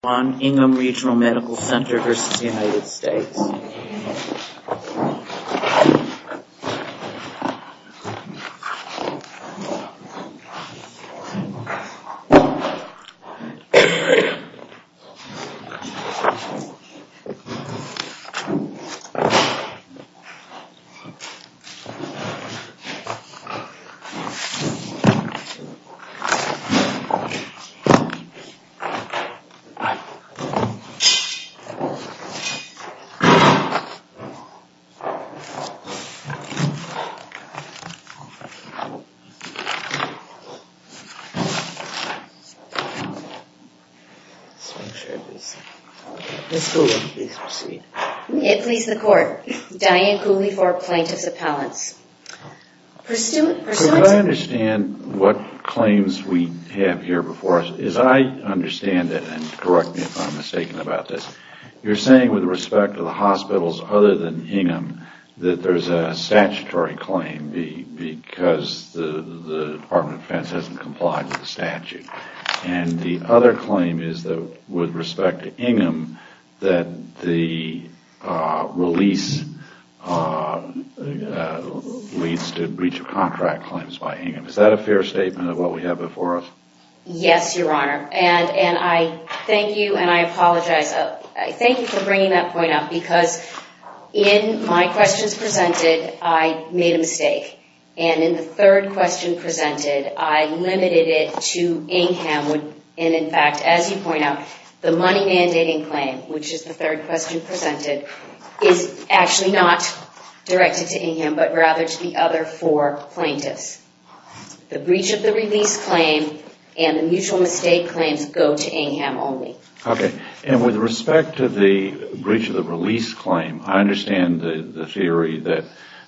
One Ingham Regional Medical Center v. United States It please the court, Diane Cooley for Plaintiff's Appellants. Do I understand what claims we have here before us? As I understand it, and correct me if I'm mistaken about this, you're saying with respect to the hospitals other than Ingham that there's a statutory claim because the Department of And the other claim is that with respect to Ingham that the release leads to breach of contract claims by Ingham. Is that a fair statement of what we have before us? Yes, Your Honor. And I thank you and I apologize. Thank you for bringing that point up because in my questions presented, I made a mistake. And in the third question presented, I limited it to Ingham. And in fact, as you point out, the money mandating claim, which is the third question presented, is actually not directed to Ingham but rather to the other four plaintiffs. The breach of the release claim and the mutual mistake claims go to Ingham only. Okay. And with respect to the breach of the release claim, I understand the theory that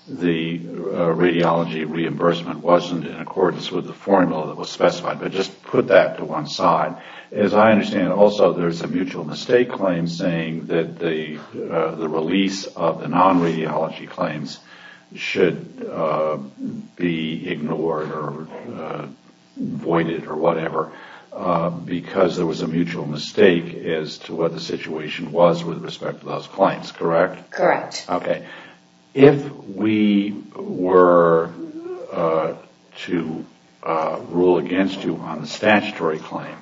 the radiology reimbursement wasn't in accordance with the formula that was specified. But just put that to one side. As I understand it also, there's a mutual mistake claim saying that the release of the non-radiology claims should be ignored or voided or whatever because there was a mutual mistake as to what the situation was with respect to those claims, correct? Correct. Okay. If we were to rule against you on the statutory claim,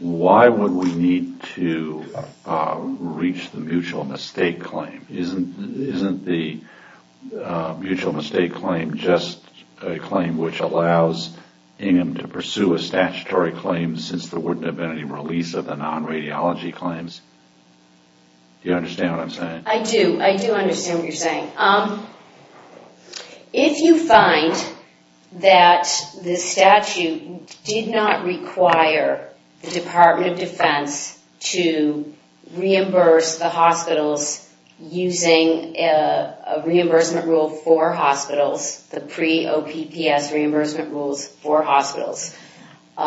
why would we need to reach the mutual mistake claim? Isn't the mutual mistake claim just a claim which allows Ingham to pursue a statutory claim since there wouldn't have been any release of the non-radiology claims? Do you understand what I'm saying? I do. I do understand what you're saying. If you find that the statute did not require the Department of Defense to reimburse the hospitals using a reimbursement rule for hospitals, the pre-OPPS reimbursement rules for hospitals, then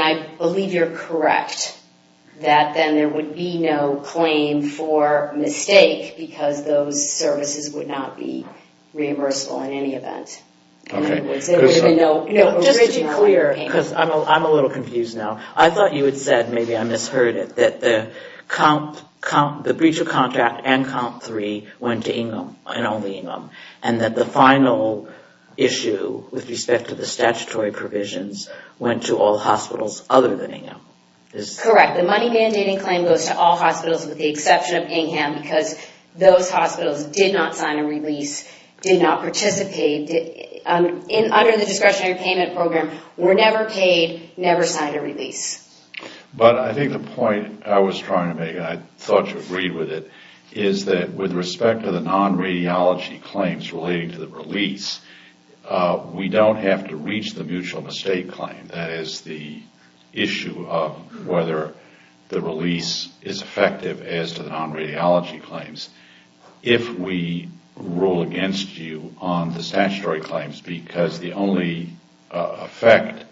I believe you're correct that then there would be no claim for mistake because those services would not be reimbursable in any event. Okay. Just to be clear. I'm a little confused now. I thought you had said, maybe I misheard it, that the breach of contract and Comp 3 went to Ingham and only Ingham. And that the final issue with respect to the statutory provisions went to all hospitals other than Ingham. Correct. The money mandating claim goes to all hospitals with the exception of Ingham because those hospitals did not sign a release, did not participate, under the discretionary payment program, were never paid, never signed a release. But I think the point I was trying to make, and I thought you agreed with it, is that with respect to the non-radiology claims relating to the release, we don't have to reach the mutual mistake claim. That is the issue of whether the release is effective as to the non-radiology claims. If we rule against you on the statutory claims because the only effect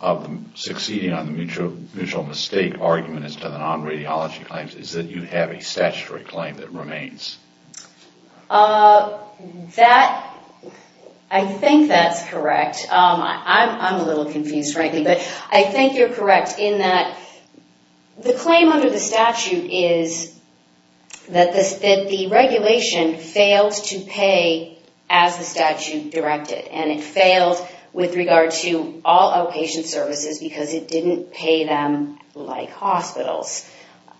of succeeding on the mutual mistake argument as to the non-radiology claims is that you have a statutory claim that remains. I think that's correct. I'm a little confused, frankly, but I think you're correct in that the claim under the statute is that the regulation failed to pay as the statute directed. And it failed with regard to all outpatient services because it didn't pay them like hospitals.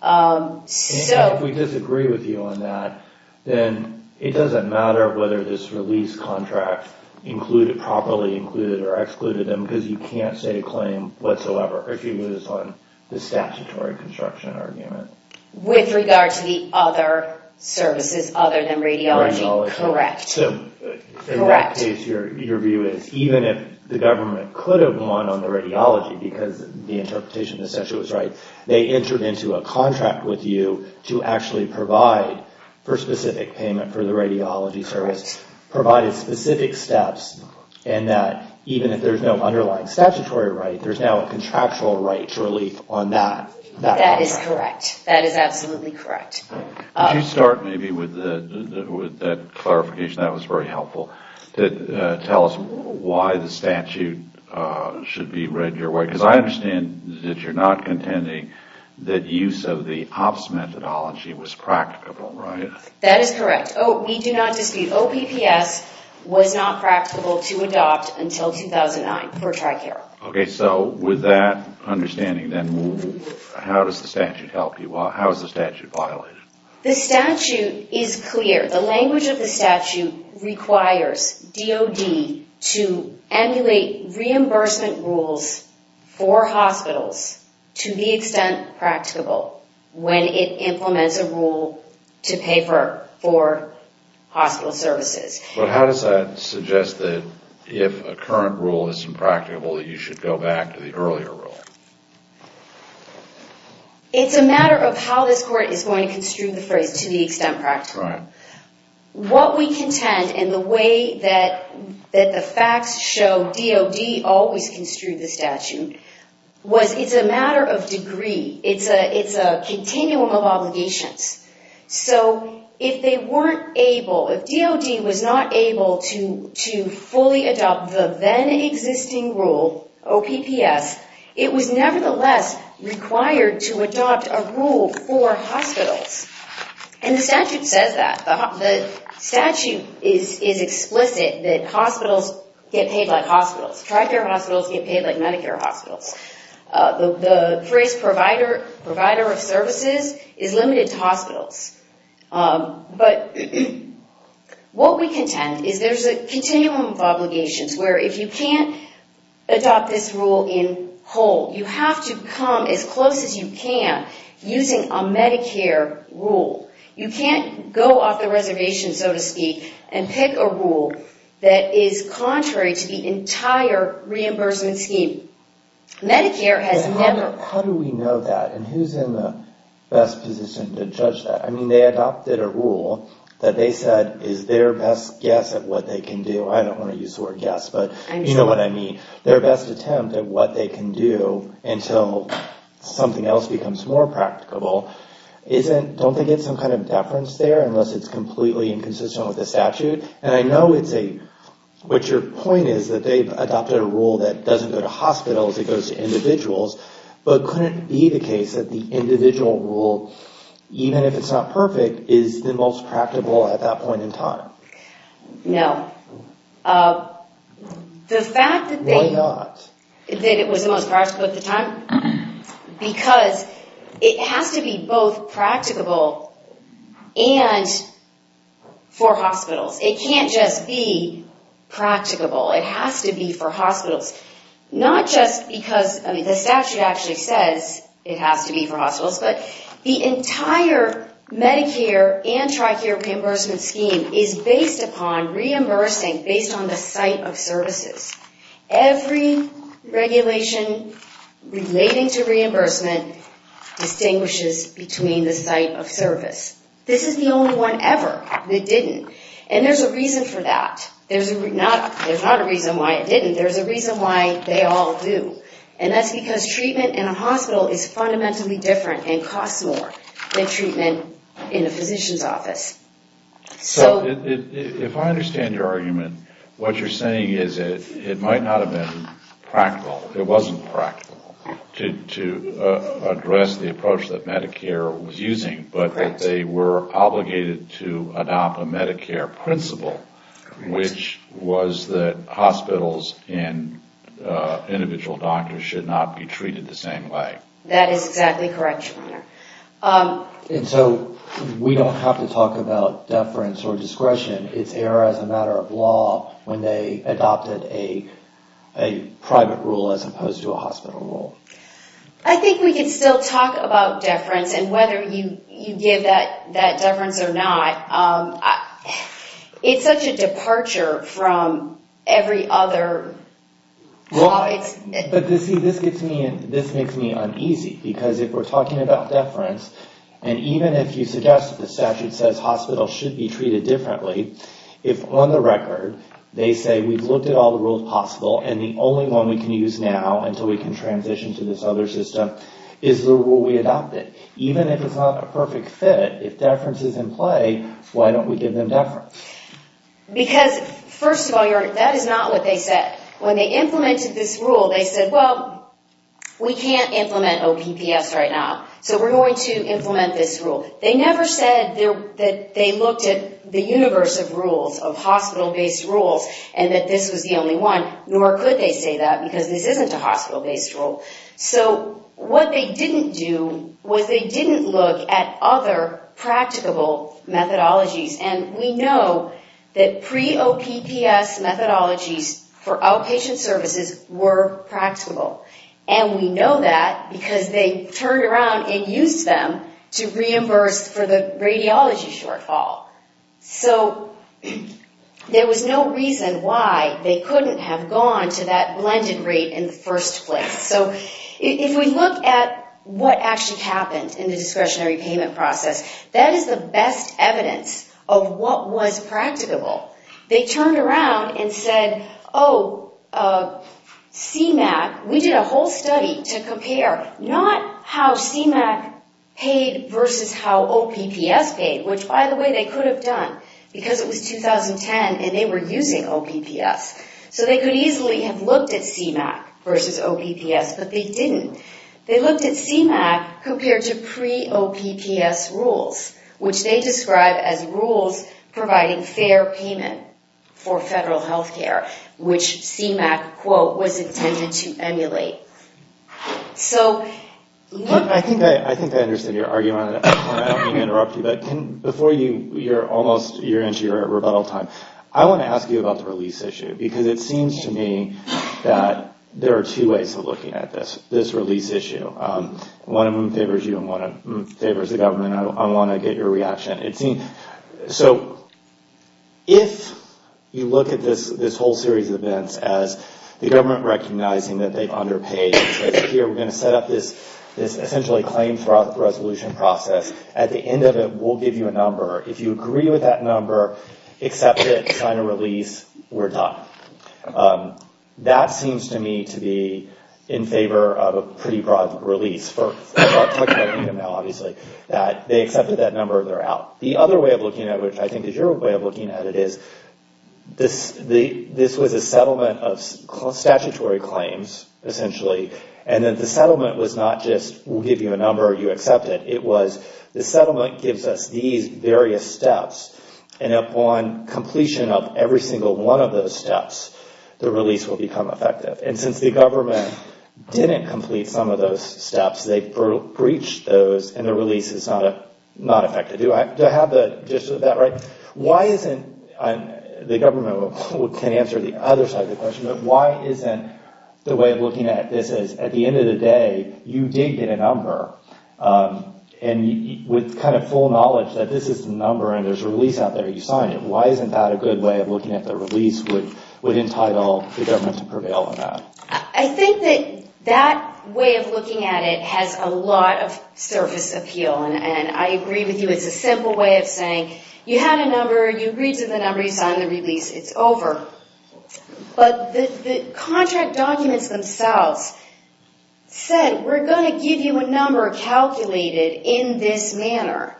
And if we disagree with you on that, then it doesn't matter whether this release contract included, properly included, or excluded them because you can't say a claim whatsoever if it was on the statutory construction argument. With regard to the other services other than radiology. Correct. So in that case, your view is even if the government could have won on the radiology because the interpretation of the statute was right, they entered into a contract with you to actually provide for specific payment for the radiology service, provided specific steps, and that even if there's no underlying statutory right, there's now a contractual right to relief on that. That is correct. That is absolutely correct. Could you start maybe with that clarification? That was very helpful. Tell us why the statute should be read your way. Because I understand that you're not contending that use of the OPS methodology was practicable, right? That is correct. We do not dispute OPPS was not practicable to adopt until 2009 for TRICARE. Okay. So with that understanding, then, how does the statute help you? How is the statute violated? The statute is clear. The language of the statute requires DOD to emulate reimbursement rules for hospitals to the extent practicable when it implements a rule to pay for hospital services. But how does that suggest that if a current rule isn't practicable, you should go back to the earlier rule? It's a matter of how this Court is going to construe the phrase to the extent practicable. What we contend, and the way that the facts show DOD always construed the statute, was it's a matter of degree. It's a continuum of obligations. So if they weren't able, if DOD was not able to fully adopt the then-existing rule, OPPS, it was nevertheless required to adopt a rule for hospitals. And the statute says that. The statute is explicit that hospitals get paid like hospitals. TRICARE hospitals get paid like Medicare hospitals. The phrase provider of services is limited to hospitals. But what we contend is there's a continuum of obligations where if you can't adopt this rule in whole, you have to come as close as you can using a Medicare rule. You can't go off the reservation, so to speak, and pick a rule that is contrary to the entire reimbursement scheme. Medicare has never... How do we know that, and who's in the best position to judge that? I mean, they adopted a rule that they said is their best guess at what they can do. I don't want to use the word guess, but you know what I mean. Their best attempt at what they can do until something else becomes more practicable, don't they get some kind of deference there unless it's completely inconsistent with the statute? And I know it's a... What your point is that they've adopted a rule that doesn't go to hospitals, it goes to individuals, but couldn't it be the case that the individual rule, even if it's not perfect, is the most practical at that point in time? No. The fact that they... Why not? That it was the most practical at the time? Because it has to be both practicable and for hospitals. It can't just be practicable. It has to be for hospitals. Not just because the statute actually says it has to be for hospitals, but the entire Medicare and TRICARE reimbursement scheme is based upon reimbursing based on the site of services. Every regulation relating to reimbursement distinguishes between the site of service. This is the only one ever that didn't. And there's a reason for that. There's not a reason why it didn't, there's a reason why they all do. And that's because treatment in a hospital is fundamentally different and costs more than treatment in a physician's office. So if I understand your argument, what you're saying is it might not have been practical, it wasn't practical to address the approach that Medicare was using, but that they were obligated to adopt a Medicare principle, which was that hospitals and individual doctors should not be treated the same way. That is exactly correct, Your Honor. And so we don't have to talk about deference or discretion. It's error as a matter of law when they adopted a private rule as opposed to a hospital rule. I think we can still talk about deference, and whether you give that deference or not, it's such a departure from every other... But see, this makes me uneasy, because if we're talking about deference, and even if you suggest that the statute says hospitals should be treated differently, if on the record they say we've looked at all the rules possible, and the only one we can use now until we can transition to this other system is the rule we adopted, even if it's not a perfect fit, if deference is in play, why don't we give them deference? Because, first of all, Your Honor, that is not what they said. When they implemented this rule, they said, well, we can't implement OPPS right now, so we're going to implement this rule. They never said that they looked at the universe of rules, of hospital-based rules, and that this was the only one, nor could they say that, because this isn't a hospital-based rule. So what they didn't do was they didn't look at other practicable methodologies, and we know that pre-OPPS methodologies for outpatient services were practical, and we know that because they turned around and used them to reimburse for the radiology shortfall. So there was no reason why they couldn't have gone to that blended rate in the first place. So if we look at what actually happened in the discretionary payment process, that is the best evidence of what was practicable. They turned around and said, oh, CMAQ, we did a whole study to compare, not how CMAQ paid versus how OPPS paid, which, by the way, they could have done, because it was 2010 and they were using OPPS. So they could easily have looked at CMAQ versus OPPS, but they didn't. So they looked at CMAQ compared to pre-OPPS rules, which they described as rules providing fair payment for federal health care, which CMAQ, quote, was intended to emulate. I think I understand your argument, and I don't mean to interrupt you, but before you're almost into your rebuttal time, I want to ask you about the release issue, because it seems to me that there are two ways of looking at this, this release issue. One of them favors you and one of them favors the government. I want to get your reaction. So if you look at this whole series of events as the government recognizing that they've underpaid, here, we're going to set up this essentially claim resolution process. At the end of it, we'll give you a number. If you agree with that number, accept it, sign a release, we're done. That seems to me to be in favor of a pretty broad release. We're talking about income now, obviously. They accepted that number, they're out. The other way of looking at it, which I think is your way of looking at it, is this was a settlement of statutory claims, essentially, and that the settlement was not just we'll give you a number, you accept it. It was the settlement gives us these various steps, and upon completion of every single one of those steps, the release will become effective. And since the government didn't complete some of those steps, they breached those and the release is not effective. Do I have the gist of that right? Why isn't, the government can answer the other side of the question, but why isn't the way of looking at this as at the end of the day, you did get a number, and with kind of full knowledge that this is the number and there's a release out there, you signed it. Why isn't that a good way of looking at the release would entitle the government to prevail on that? I think that that way of looking at it has a lot of surface appeal, and I agree with you, it's a simple way of saying you had a number, you agreed to the number, you signed the release, it's over. But the contract documents themselves said, we're going to give you a number calculated in this manner.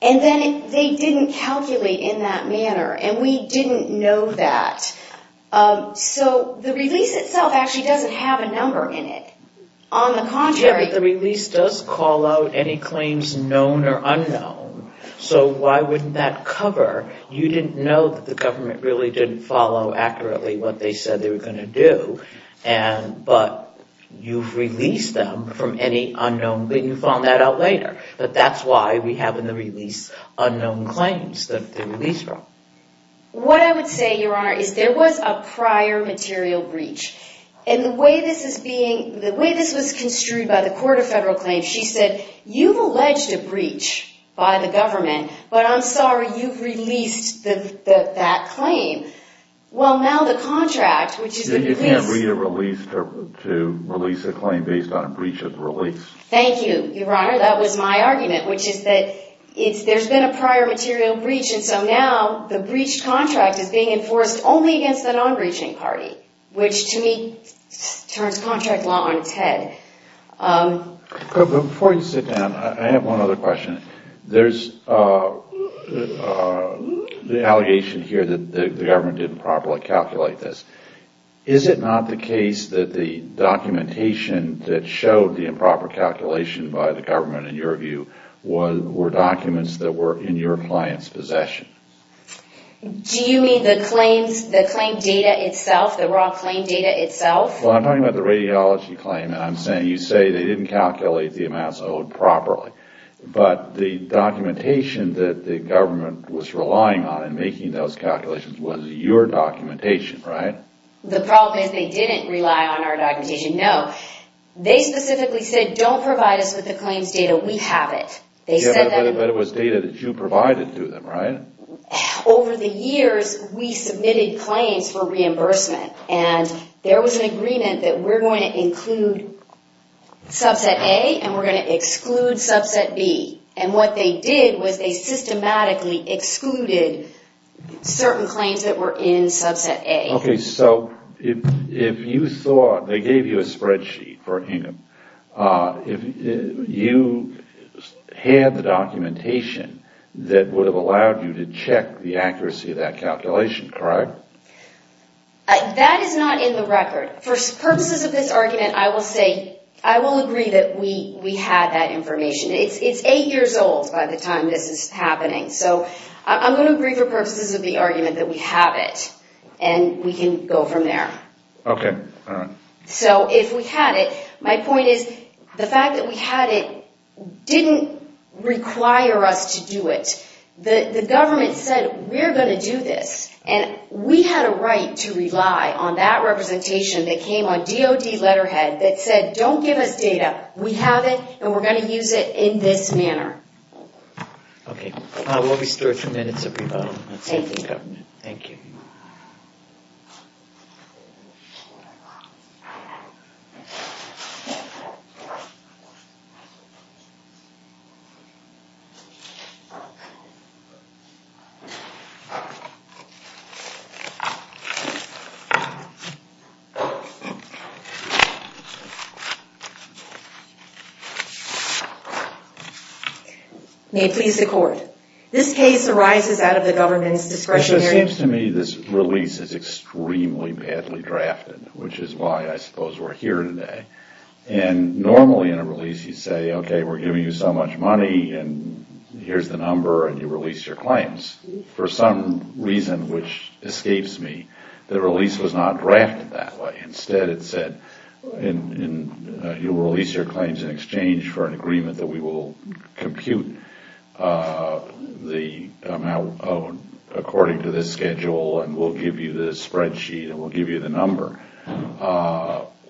And then they didn't calculate in that manner, and we didn't know that. So the release itself actually doesn't have a number in it. On the contrary... Yeah, but the release does call out any claims known or unknown. So why wouldn't that cover? You didn't know that the government really didn't follow accurately what they said they were going to do, but you've released them from any unknown, but you found that out later. But that's why we have in the release unknown claims that they're released from. What I would say, Your Honor, is there was a prior material breach. And the way this was construed by the Court of Federal Claims, she said, you've alleged a breach by the government, but I'm sorry you've released that claim. Well, now the contract, which is the release... You can't read a release to release a claim based on a breach of the release. Thank you, Your Honor. That was my argument, which is that there's been a prior material breach, and so now the breached contract is being enforced only against the non-breaching party, which to me turns contract law on its head. Before you sit down, I have one other question. There's the allegation here that the government didn't properly calculate this. Is it not the case that the documentation that showed the improper calculation by the government, in your view, were documents that were in your client's possession? Do you mean the claims, the claim data itself, the raw claim data itself? Well, I'm talking about the radiology claim, and I'm saying you say they didn't calculate the amounts owed properly. But the documentation that the government was relying on in making those calculations was your documentation, right? The problem is they didn't rely on our documentation, no. They specifically said, don't provide us with the claims data, we have it. But it was data that you provided to them, right? Over the years, we submitted claims for reimbursement, and there was an agreement that we're going to include subset A and we're going to exclude subset B. And what they did was they systematically excluded certain claims that were in subset A. Okay, so if you thought they gave you a spreadsheet for Hingham, you had the documentation that would have allowed you to check the accuracy of that calculation, correct? That is not in the record. For purposes of this argument, I will say I will agree that we had that information. It's eight years old by the time this is happening. So I'm going to agree for purposes of the argument that we have it, and we can go from there. Okay, all right. So if we had it, my point is the fact that we had it didn't require us to do it. The government said, we're going to do this. And we had a right to rely on that representation that came on DOD letterhead that said, don't give us data. We have it, and we're going to use it in this manner. Okay. We'll be still at two minutes at the bottom. Thank you. Thank you. May it please the court. This case arises out of the government's discretionary. It seems to me this release is extremely badly drafted, which is why I suppose we're here today. And normally in a release you say, okay, we're giving you so much money, and here's the number, and you release your claims. For some reason, which escapes me, the release was not drafted that way. Instead it said, you will release your claims in exchange for an agreement that we will compute the amount according to this schedule, and we'll give you the spreadsheet, and we'll give you the number.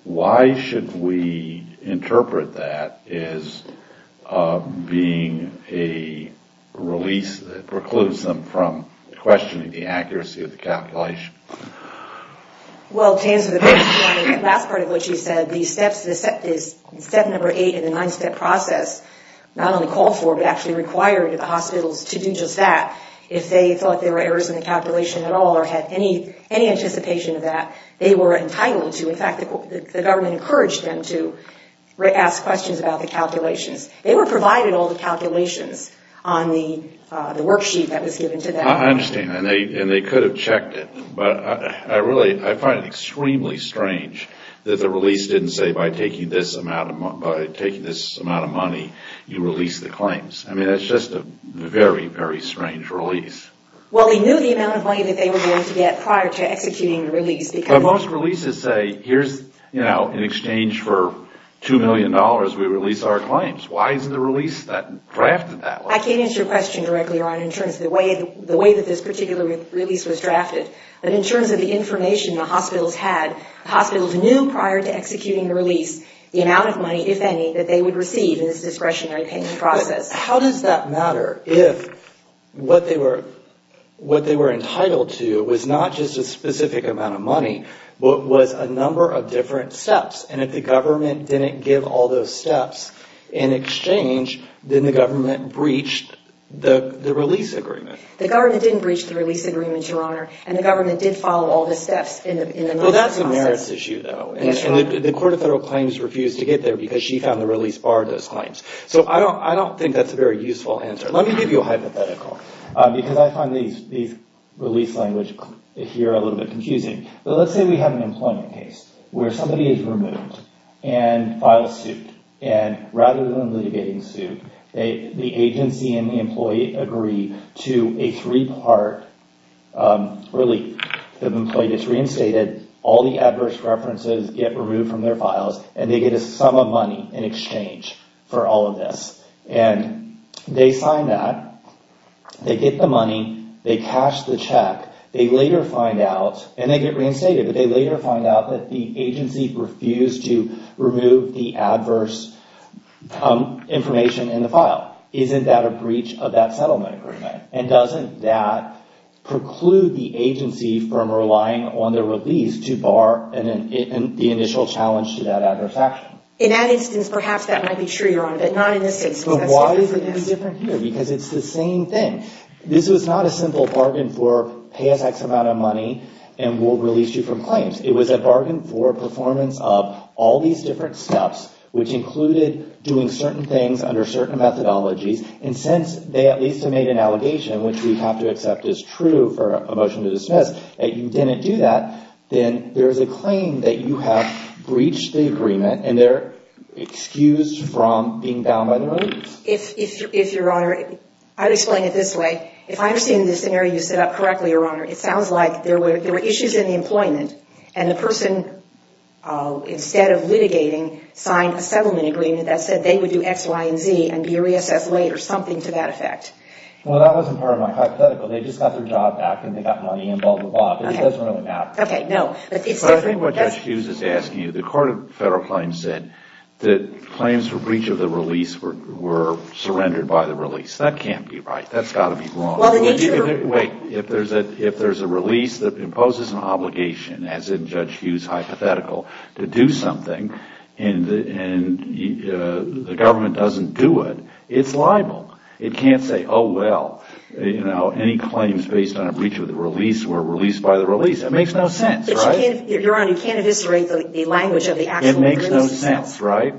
Why should we interpret that as being a release that precludes them from questioning the accuracy of the calculation? Well, to answer the question, the last part of what you said, the step number eight in the nine-step process, not only called for, but actually required the hospitals to do just that. If they thought there were errors in the calculation at all or had any anticipation of that, they were entitled to, in fact, the government encouraged them to ask questions about the calculations. They were provided all the calculations on the worksheet that was given to them. I understand, and they could have checked it, but I find it extremely strange that the release didn't say, by taking this amount of money, you release the claims. I mean, that's just a very, very strange release. Well, they knew the amount of money that they were going to get prior to executing the release. But most releases say, here's, you know, in exchange for $2 million, we release our claims. Why isn't the release drafted that way? I can't answer your question directly, Ron, in terms of the way that this particular release was drafted. But in terms of the information the hospitals had, hospitals knew prior to executing the release the amount of money, if any, that they would receive in this discretionary payment process. How does that matter if what they were entitled to was not just a specific amount of money, but was a number of different steps, and if the government didn't give all those steps in exchange, then the government breached the release agreement? The government didn't breach the release agreement, Your Honor, and the government did follow all the steps in the notice process. Well, that's a merits issue, though, and the Court of Federal Claims refused to get there because she found the release barred those claims. So I don't think that's a very useful answer. Let me give you a hypothetical, because I find these release language here a little bit confusing. But let's say we have an employment case where somebody is removed and files suit, and rather than litigating suit, the agency and the employee agree to a three-part relief. The employee gets reinstated, all the adverse references get removed from their files, and they get a sum of money in exchange for all of this. And they sign that, they get the money, they cash the check, they later find out, and they get reinstated, but they later find out that the agency refused to remove the adverse information in the file. Isn't that a breach of that settlement agreement? And doesn't that preclude the agency from relying on the release to bar the initial challenge to that adverse action? In that instance, perhaps that might be true, Your Honor, but not in this instance. But why is it any different here? Because it's the same thing. This was not a simple bargain for pay us X amount of money and we'll release you from claims. It was a bargain for performance of all these different steps, which included doing certain things under certain methodologies. And since they at least made an allegation, which we have to accept is true for a motion to dismiss, that you didn't do that, then there's a claim that you have breached the agreement and they're excused from being bound by the release. If, Your Honor, I'll explain it this way. If I'm seeing this scenario you set up correctly, Your Honor, it sounds like there were issues in the employment and the person, instead of litigating, signed a settlement agreement that said they would do X, Y, and Z and be reassessed later, something to that effect. Well, that wasn't part of my hypothetical. They just got their job back and they got money and blah, blah, blah. But it doesn't really matter. Okay, no. But it's different. But I think what Judge Hughes is asking you, the Court of Federal Claims said that claims for breach of the release were surrendered by the release. That can't be right. That's got to be wrong. Well, the nature of the rule... Wait. If there's a release that imposes an obligation, as in Judge Hughes' hypothetical, to do something and the government doesn't do it, it's liable. It can't say, oh, well, you know, any claims based on a breach of the release were released by the release. That makes no sense, right? But, Your Honor, you can't eviscerate the language of the actual release. It makes no sense, right?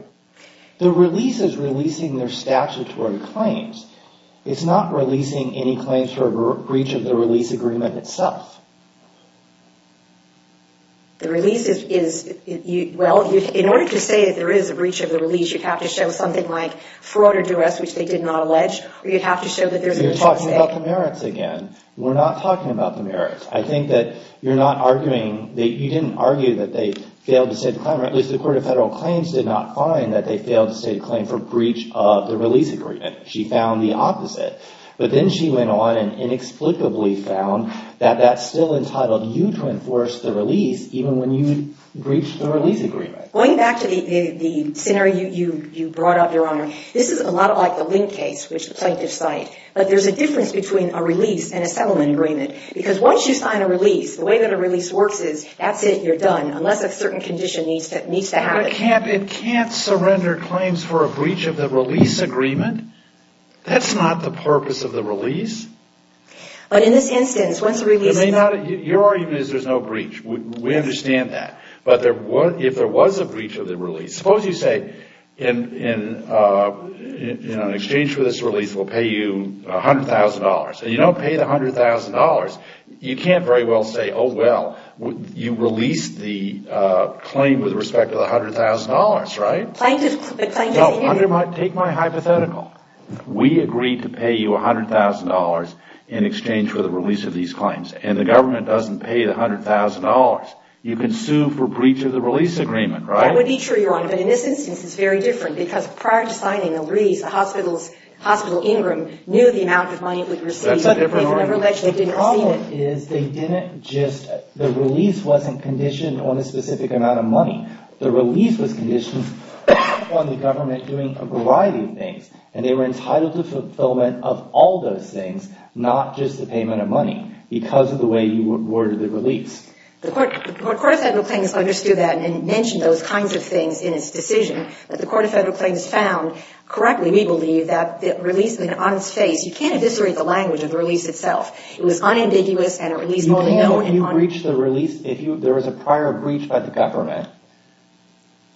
The release is releasing their statutory claims. It's not releasing any claims for a breach of the release agreement itself. The release is, well, in order to say that there is a breach of the release, you'd have to show something like fraud or duress, which they did not allege, or you'd have to show that there's a breach of the state. You're talking about the merits again. We're not talking about the merits. I think that you're not arguing that you didn't argue that they failed to state a claim, or at least the Court of Federal Claims did not find that they failed to state a claim for breach of the release agreement. She found the opposite. But then she went on and inexplicably found that that's still entitled you to enforce the release even when you breached the release agreement. Going back to the scenario you brought up, Your Honor, this is a lot like the Lindt case, which the plaintiffs cite. But there's a difference between a release and a settlement agreement because once you sign a release, the way that a release works is that's it, you're done, unless a certain condition needs to happen. But it can't surrender claims for a breach of the release agreement. That's not the purpose of the release. But in this instance, once the release... Your argument is there's no breach. We understand that. But if there was a breach of the release, suppose you say, in exchange for this release, we'll pay you $100,000. And you don't pay the $100,000. You can't very well say, oh, well, you released the claim with respect to the $100,000, right? Take my hypothetical. We agreed to pay you $100,000 in exchange for the release of these claims. And the government doesn't pay the $100,000. You can sue for breach of the release agreement, right? That would be true, Your Honor. But in this instance, it's very different because prior to signing the release, Hospital Ingram knew the amount of money it would receive. That's a different argument. The problem is they didn't just... The release wasn't conditioned on a specific amount of money. The release was conditioned on the government doing a variety of things. And they were entitled to fulfillment of all those things, not just the payment of money because of the way you worded the release. The Court of Federal Claims understood that and mentioned those kinds of things in its decision. But the Court of Federal Claims found, correctly, we believe, that the release was an honest face. You can't eviscerate the language of the release itself. It was unambiguous and a release... If you breach the release, if there was a prior breach by the government,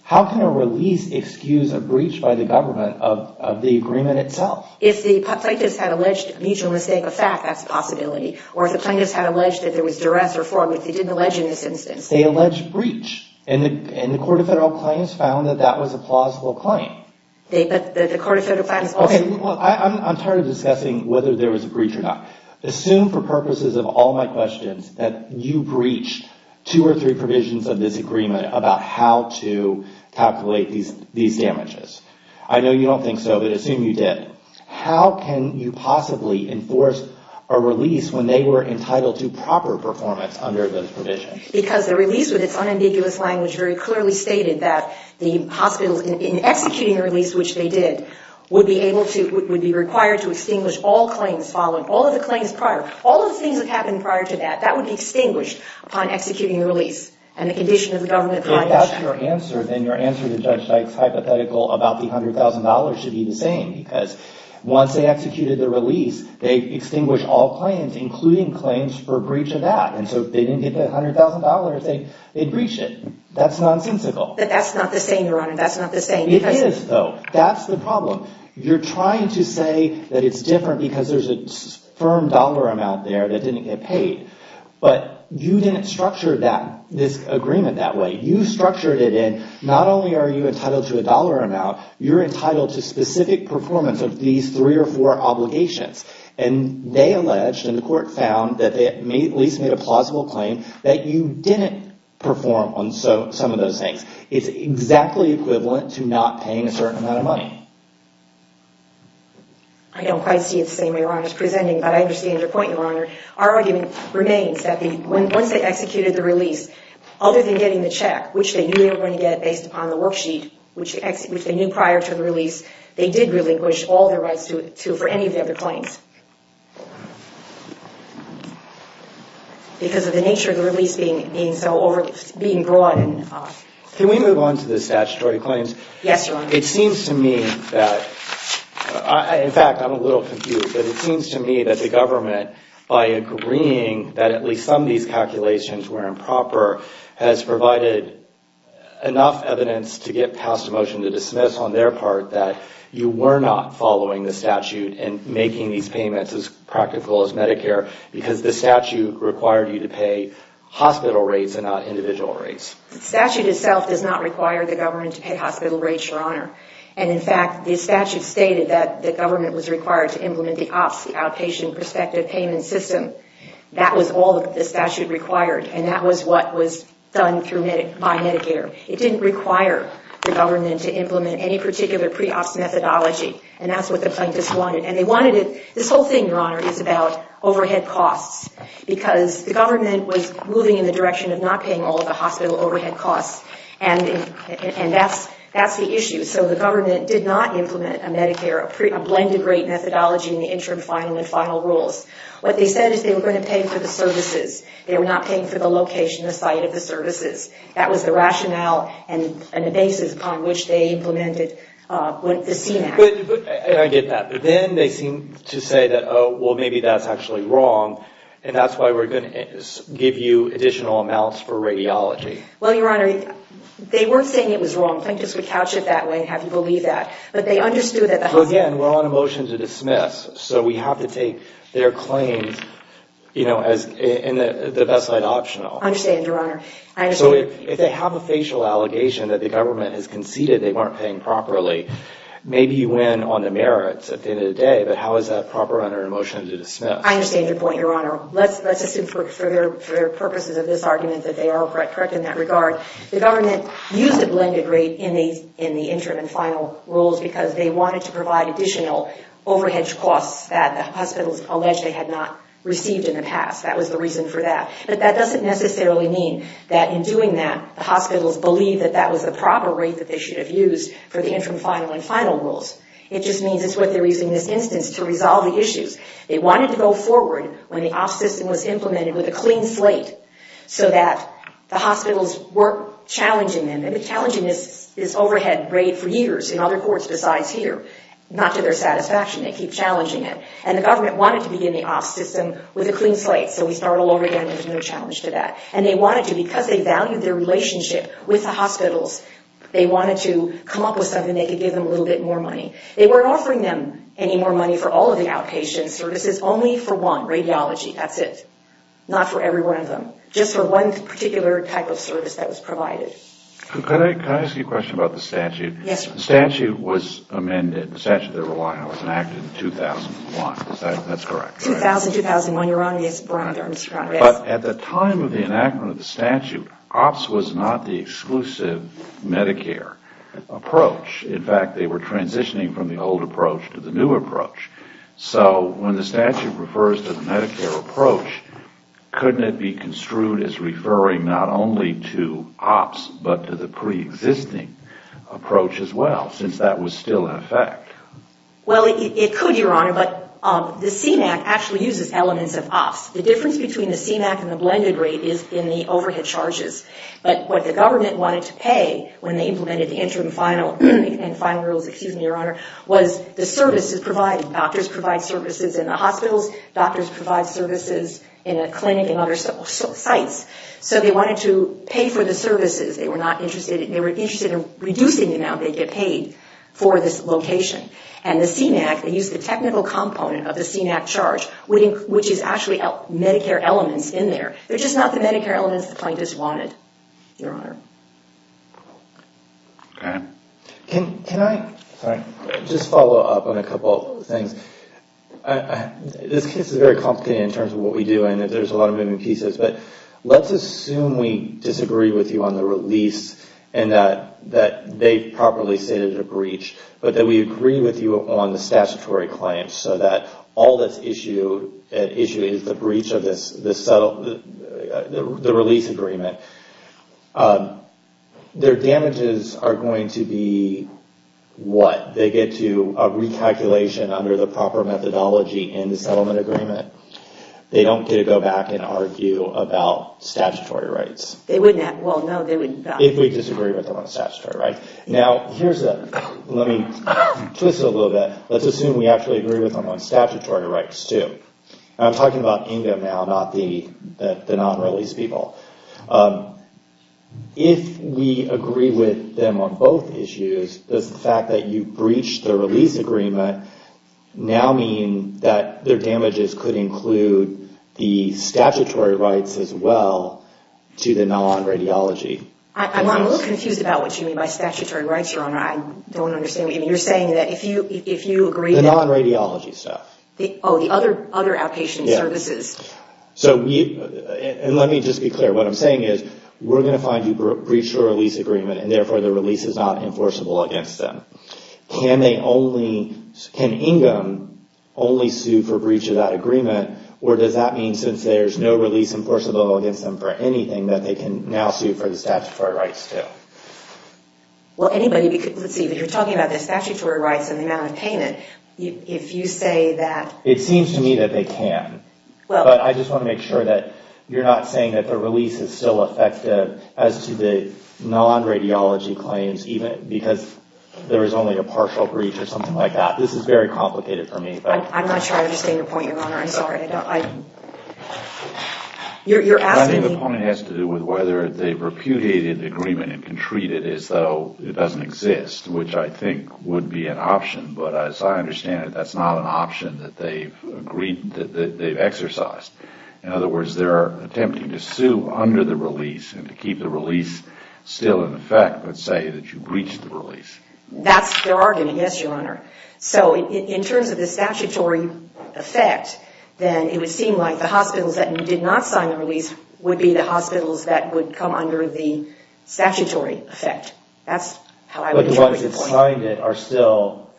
how can a release excuse a breach by the government of the agreement itself? If the plaintiffs had alleged mutual mistake of fact, that's a possibility. Or if the plaintiffs had alleged that there was duress or fraud, which they didn't allege in this instance. They alleged breach. And the Court of Federal Claims found that that was a plausible claim. But the Court of Federal Claims also... I'm tired of discussing whether there was a breach or not. Assume, for purposes of all my questions, that you breached two or three provisions of this agreement about how to calculate these damages. I know you don't think so, but assume you did. How can you possibly enforce a release when they were entitled to proper performance under those provisions? Because the release, with its unambiguous language, very clearly stated that the hospital, in executing the release, which they did, would be required to extinguish all claims following. All of the claims prior. All of the things that happened prior to that. That would be extinguished upon executing the release. And the condition of the government... If that's your answer, then your answer to Judge Dykes' hypothetical about the $100,000 should be the same. Because once they executed the release, they extinguished all claims, including claims for breach of that. And so if they didn't get the $100,000, they'd breach it. That's nonsensical. But that's not the same, Your Honor. That's not the same. It is, though. That's the problem. You're trying to say that it's different because there's a firm dollar amount there that didn't get paid. But you didn't structure this agreement that way. You structured it in, not only are you entitled to a dollar amount, you're entitled to specific performance of these three or four obligations. And they alleged, and the court found, that they at least made a plausible claim that you didn't perform on some of those things. It's exactly equivalent to not paying a certain amount of money. I don't quite see it the same way Your Honor is presenting, but I understand your point, Your Honor. Our argument remains that once they executed the release, other than getting the check, which they knew they were going to get based upon the worksheet, which they knew prior to the release, they did relinquish all their rights for any of the other claims. Because of the nature of the release being so broad. Can we move on to the statutory claims? Yes, Your Honor. It seems to me that, in fact, I'm a little confused, but it seems to me that the government, by agreeing that at least some of these calculations were improper, has provided enough evidence to get past a motion to dismiss, on their part, that you were not following the statute and making these payments as practical as Medicare, because the statute required you to pay hospital rates and not individual rates. The statute itself does not require the government to pay hospital rates, Your Honor. And, in fact, the statute stated that the government was required to implement the outpatient prospective payment system. That was all that the statute required, and that was what was done by Medicare. It didn't require the government to implement any particular pre-ops methodology, and that's what the plaintiffs wanted. And they wanted it... This whole thing, Your Honor, is about overhead costs, because the government was moving in the direction of not paying all of the hospital overhead costs, and that's the issue. So the government did not implement a Medicare, a blended rate methodology in the interim, final, and final rules. What they said is they were going to pay for the services. They were not paying for the location, the site of the services. That was the rationale and the basis upon which they implemented the CNAP. I get that, but then they seem to say that, oh, well, maybe that's actually wrong, and that's why we're going to give you additional amounts for radiology. Well, Your Honor, they weren't saying it was wrong. Plaintiffs would couch it that way and have you believe that. But they understood that the hospital... Again, we're on a motion to dismiss, so we have to take their claims in the best light optional. I understand, Your Honor. So if they have a facial allegation that the government has conceded they weren't paying properly, maybe you win on the merits at the end of the day, but how is that proper under a motion to dismiss? I understand your point, Your Honor. Let's assume for the purposes of this argument that they are correct in that regard. The government used a blended rate in the interim and final rules because they wanted to provide additional overhead costs that the hospitals alleged they had not received in the past. That was the reason for that. But that doesn't necessarily mean that in doing that the hospitals believe that that was the proper rate that they should have used for the interim, final, and final rules. It just means it's what they're using in this instance to resolve the issues. They wanted to go forward when the op system was implemented with a clean slate so that the hospitals weren't challenging them. And the challenging is this overhead rate for years in other courts besides here. Not to their satisfaction, they keep challenging it. And the government wanted to begin the op system with a clean slate so we start all over again, there's no challenge to that. And they wanted to, because they valued their relationship with the hospitals, they wanted to come up with something that could give them a little bit more money. They weren't offering them any more money for all of the outpatient services, only for one, radiology, that's it. Not for every one of them. Just for one particular type of service that was provided. Can I ask you a question about the statute? Yes, sir. The statute was amended, the statute that we're relying on, was enacted in 2001. Is that correct? 2000, 2001, you're on, yes. But at the time of the enactment of the statute, ops was not the exclusive Medicare approach. In fact, they were transitioning from the old approach to the new approach. So when the statute refers to the Medicare approach, couldn't it be construed as referring not only to ops but to the preexisting approach as well, since that was still in effect? Well, it could, Your Honor, but the CMAQ actually uses elements of ops. The difference between the CMAQ and the blended rate is in the overhead charges. But what the government wanted to pay when they implemented the interim final and final rules, excuse me, Your Honor, was the services provided. Doctors provide services in the hospitals. Doctors provide services in a clinic and other sites. So they wanted to pay for the services. They were interested in reducing the amount they get paid for this location. And the CMAQ, they used the technical component of the CMAQ charge, which is actually Medicare elements in there. They're just not the Medicare elements the plaintiffs wanted, Your Honor. Can I just follow up on a couple of things? This case is very complicated in terms of what we do, and there's a lot of moving pieces. But let's assume we disagree with you on the release and that they properly stated a breach, but that we agree with you on the statutory claims so that all that's at issue is the breach of the release agreement. Their damages are going to be what? They get a recalculation under the proper methodology in the settlement agreement. They don't get to go back and argue about statutory rights. Well, no, they wouldn't. If we disagree with them on statutory rights. Now, let me twist it a little bit. Let's assume we actually agree with them on statutory rights, too. I'm talking about Inga now, not the non-release people. If we agree with them on both issues, does the fact that you breached the release agreement now mean that their damages could include the statutory rights as well to the non-radiology? I'm a little confused about what you mean by statutory rights, Your Honor. I don't understand. You're saying that if you agree that... The non-radiology stuff. Oh, the other outpatient services. Let me just be clear. What I'm saying is we're going to find you breached your release agreement, and therefore the release is not enforceable against them. Can Inga only sue for breach of that agreement, or does that mean since there's no release enforceable against them for anything, that they can now sue for the statutory rights, too? Well, anybody... Let's see, but you're talking about the statutory rights and the amount of payment. If you say that... It seems to me that they can. But I just want to make sure that you're not saying that the release is still effective as to the non-radiology claims, because there is only a partial breach or something like that. This is very complicated for me. I'm not sure I understand your point, Your Honor. I'm sorry. You're asking me... I think the point has to do with whether they've repudiated the agreement and can treat it as though it doesn't exist, which I think would be an option. But as I understand it, that's not an option that they've exercised. In other words, they're attempting to sue under the release and to keep the release still in effect but say that you breached the release. That's their argument, yes, Your Honor. So in terms of the statutory effect, then it would seem like the hospitals that did not sign the release would be the hospitals that would come under the statutory effect. That's how I would interpret it. But the ones that signed it are still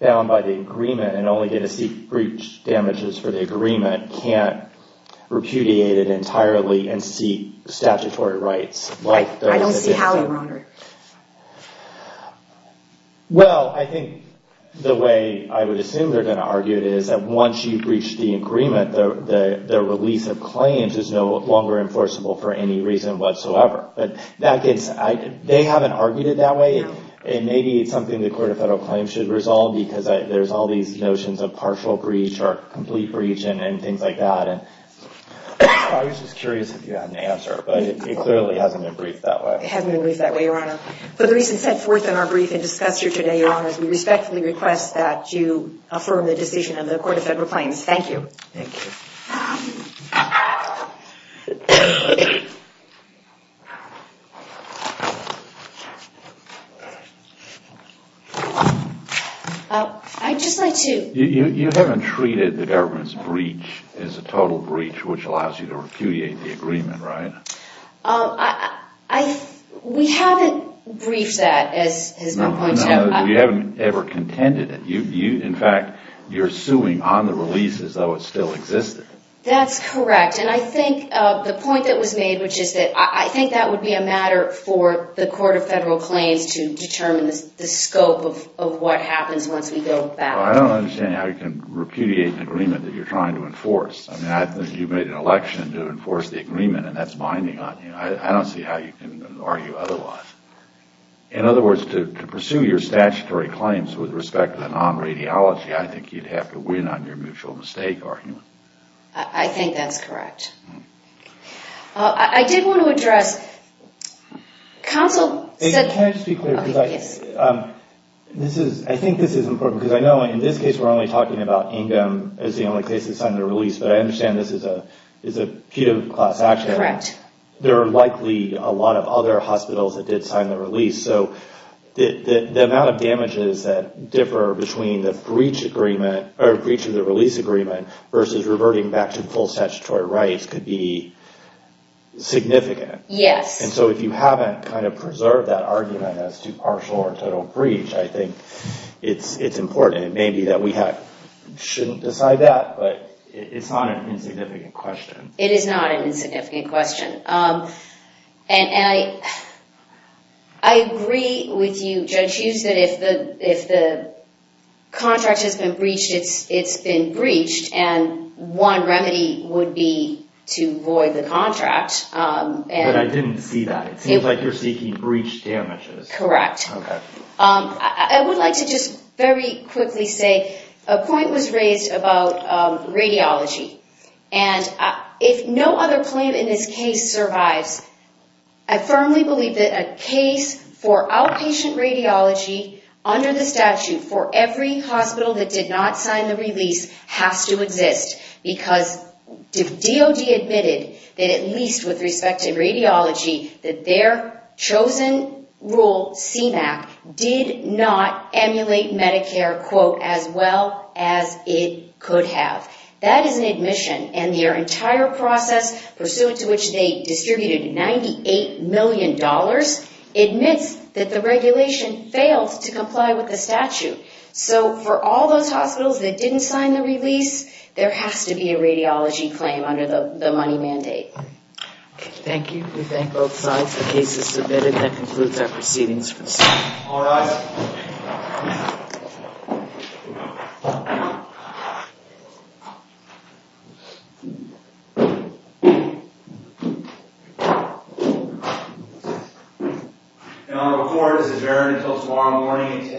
bound by the agreement and only get to seek breach damages for the agreement, can't repudiate it entirely and seek statutory rights. I don't see how, Your Honor. Well, I think the way I would assume they're going to argue it is that once you breach the agreement, the release of claims is no longer enforceable for any reason whatsoever. They haven't argued it that way, and maybe it's something the Court of Federal Claims should resolve because there's all these notions of partial breach or complete breach and things like that. I was just curious if you had an answer, but it clearly hasn't been briefed that way. It hasn't been briefed that way, Your Honor. For the reasons set forth in our brief and discussion today, Your Honor, we respectfully request that you affirm the decision of the Court of Federal Claims. Thank you. Thank you. I'd just like to... You haven't treated the government's breach as a total breach which allows you to repudiate the agreement, right? We haven't briefed that, as has been pointed out. No, we haven't ever contended it. In fact, you're suing on the release as though it still existed. That's correct, and I think the point that was made, which is that I think that would be a matter for the Court of Federal Claims to determine the scope of what happens once we go back. I don't understand how you can repudiate an agreement that you're trying to enforce. I mean, I think you've made an election to enforce the agreement, and that's binding on you. I don't see how you can argue otherwise. In other words, to pursue your statutory claims with respect to the non-radiology, I think you'd have to win on your mutual mistake argument. I think that's correct. I did want to address counsel said... Can I just be clear? Yes. I think this is important because I know in this case we're only talking about Ingham as the only case that signed the release, but I understand this is a pediatric class accident. Correct. There are likely a lot of other hospitals that did sign the release, so the amount of damages that differ between the breach of the release agreement versus reverting back to full statutory rights could be significant. Yes. And so if you haven't kind of preserved that argument as to partial or total breach, I think it's important. It may be that we shouldn't decide that, but it's not an insignificant question. It is not an insignificant question. And I agree with you, Judge Hughes, that if the contract has been breached, it's been breached, and one remedy would be to void the contract. But I didn't see that. It seems like you're seeking breach damages. Correct. Okay. I would like to just very quickly say a point was raised about radiology, and if no other claim in this case survives, I firmly believe that a case for outpatient radiology under the statute for every hospital that did not sign the release has to exist because DOD admitted that at least with respect to radiology, that their chosen rule, CMAQ, did not emulate Medicare, quote, as well as it could have. That is an admission, and their entire process, pursuant to which they distributed $98 million, admits that the regulation failed to comply with the statute. So for all those hospitals that didn't sign the release, there has to be a radiology claim under the money mandate. Okay. Thank you. We thank both sides. The case is submitted. That concludes our proceedings for this morning. All rise. Thank you. And I will record this adjournment until tomorrow morning at 10 a.m.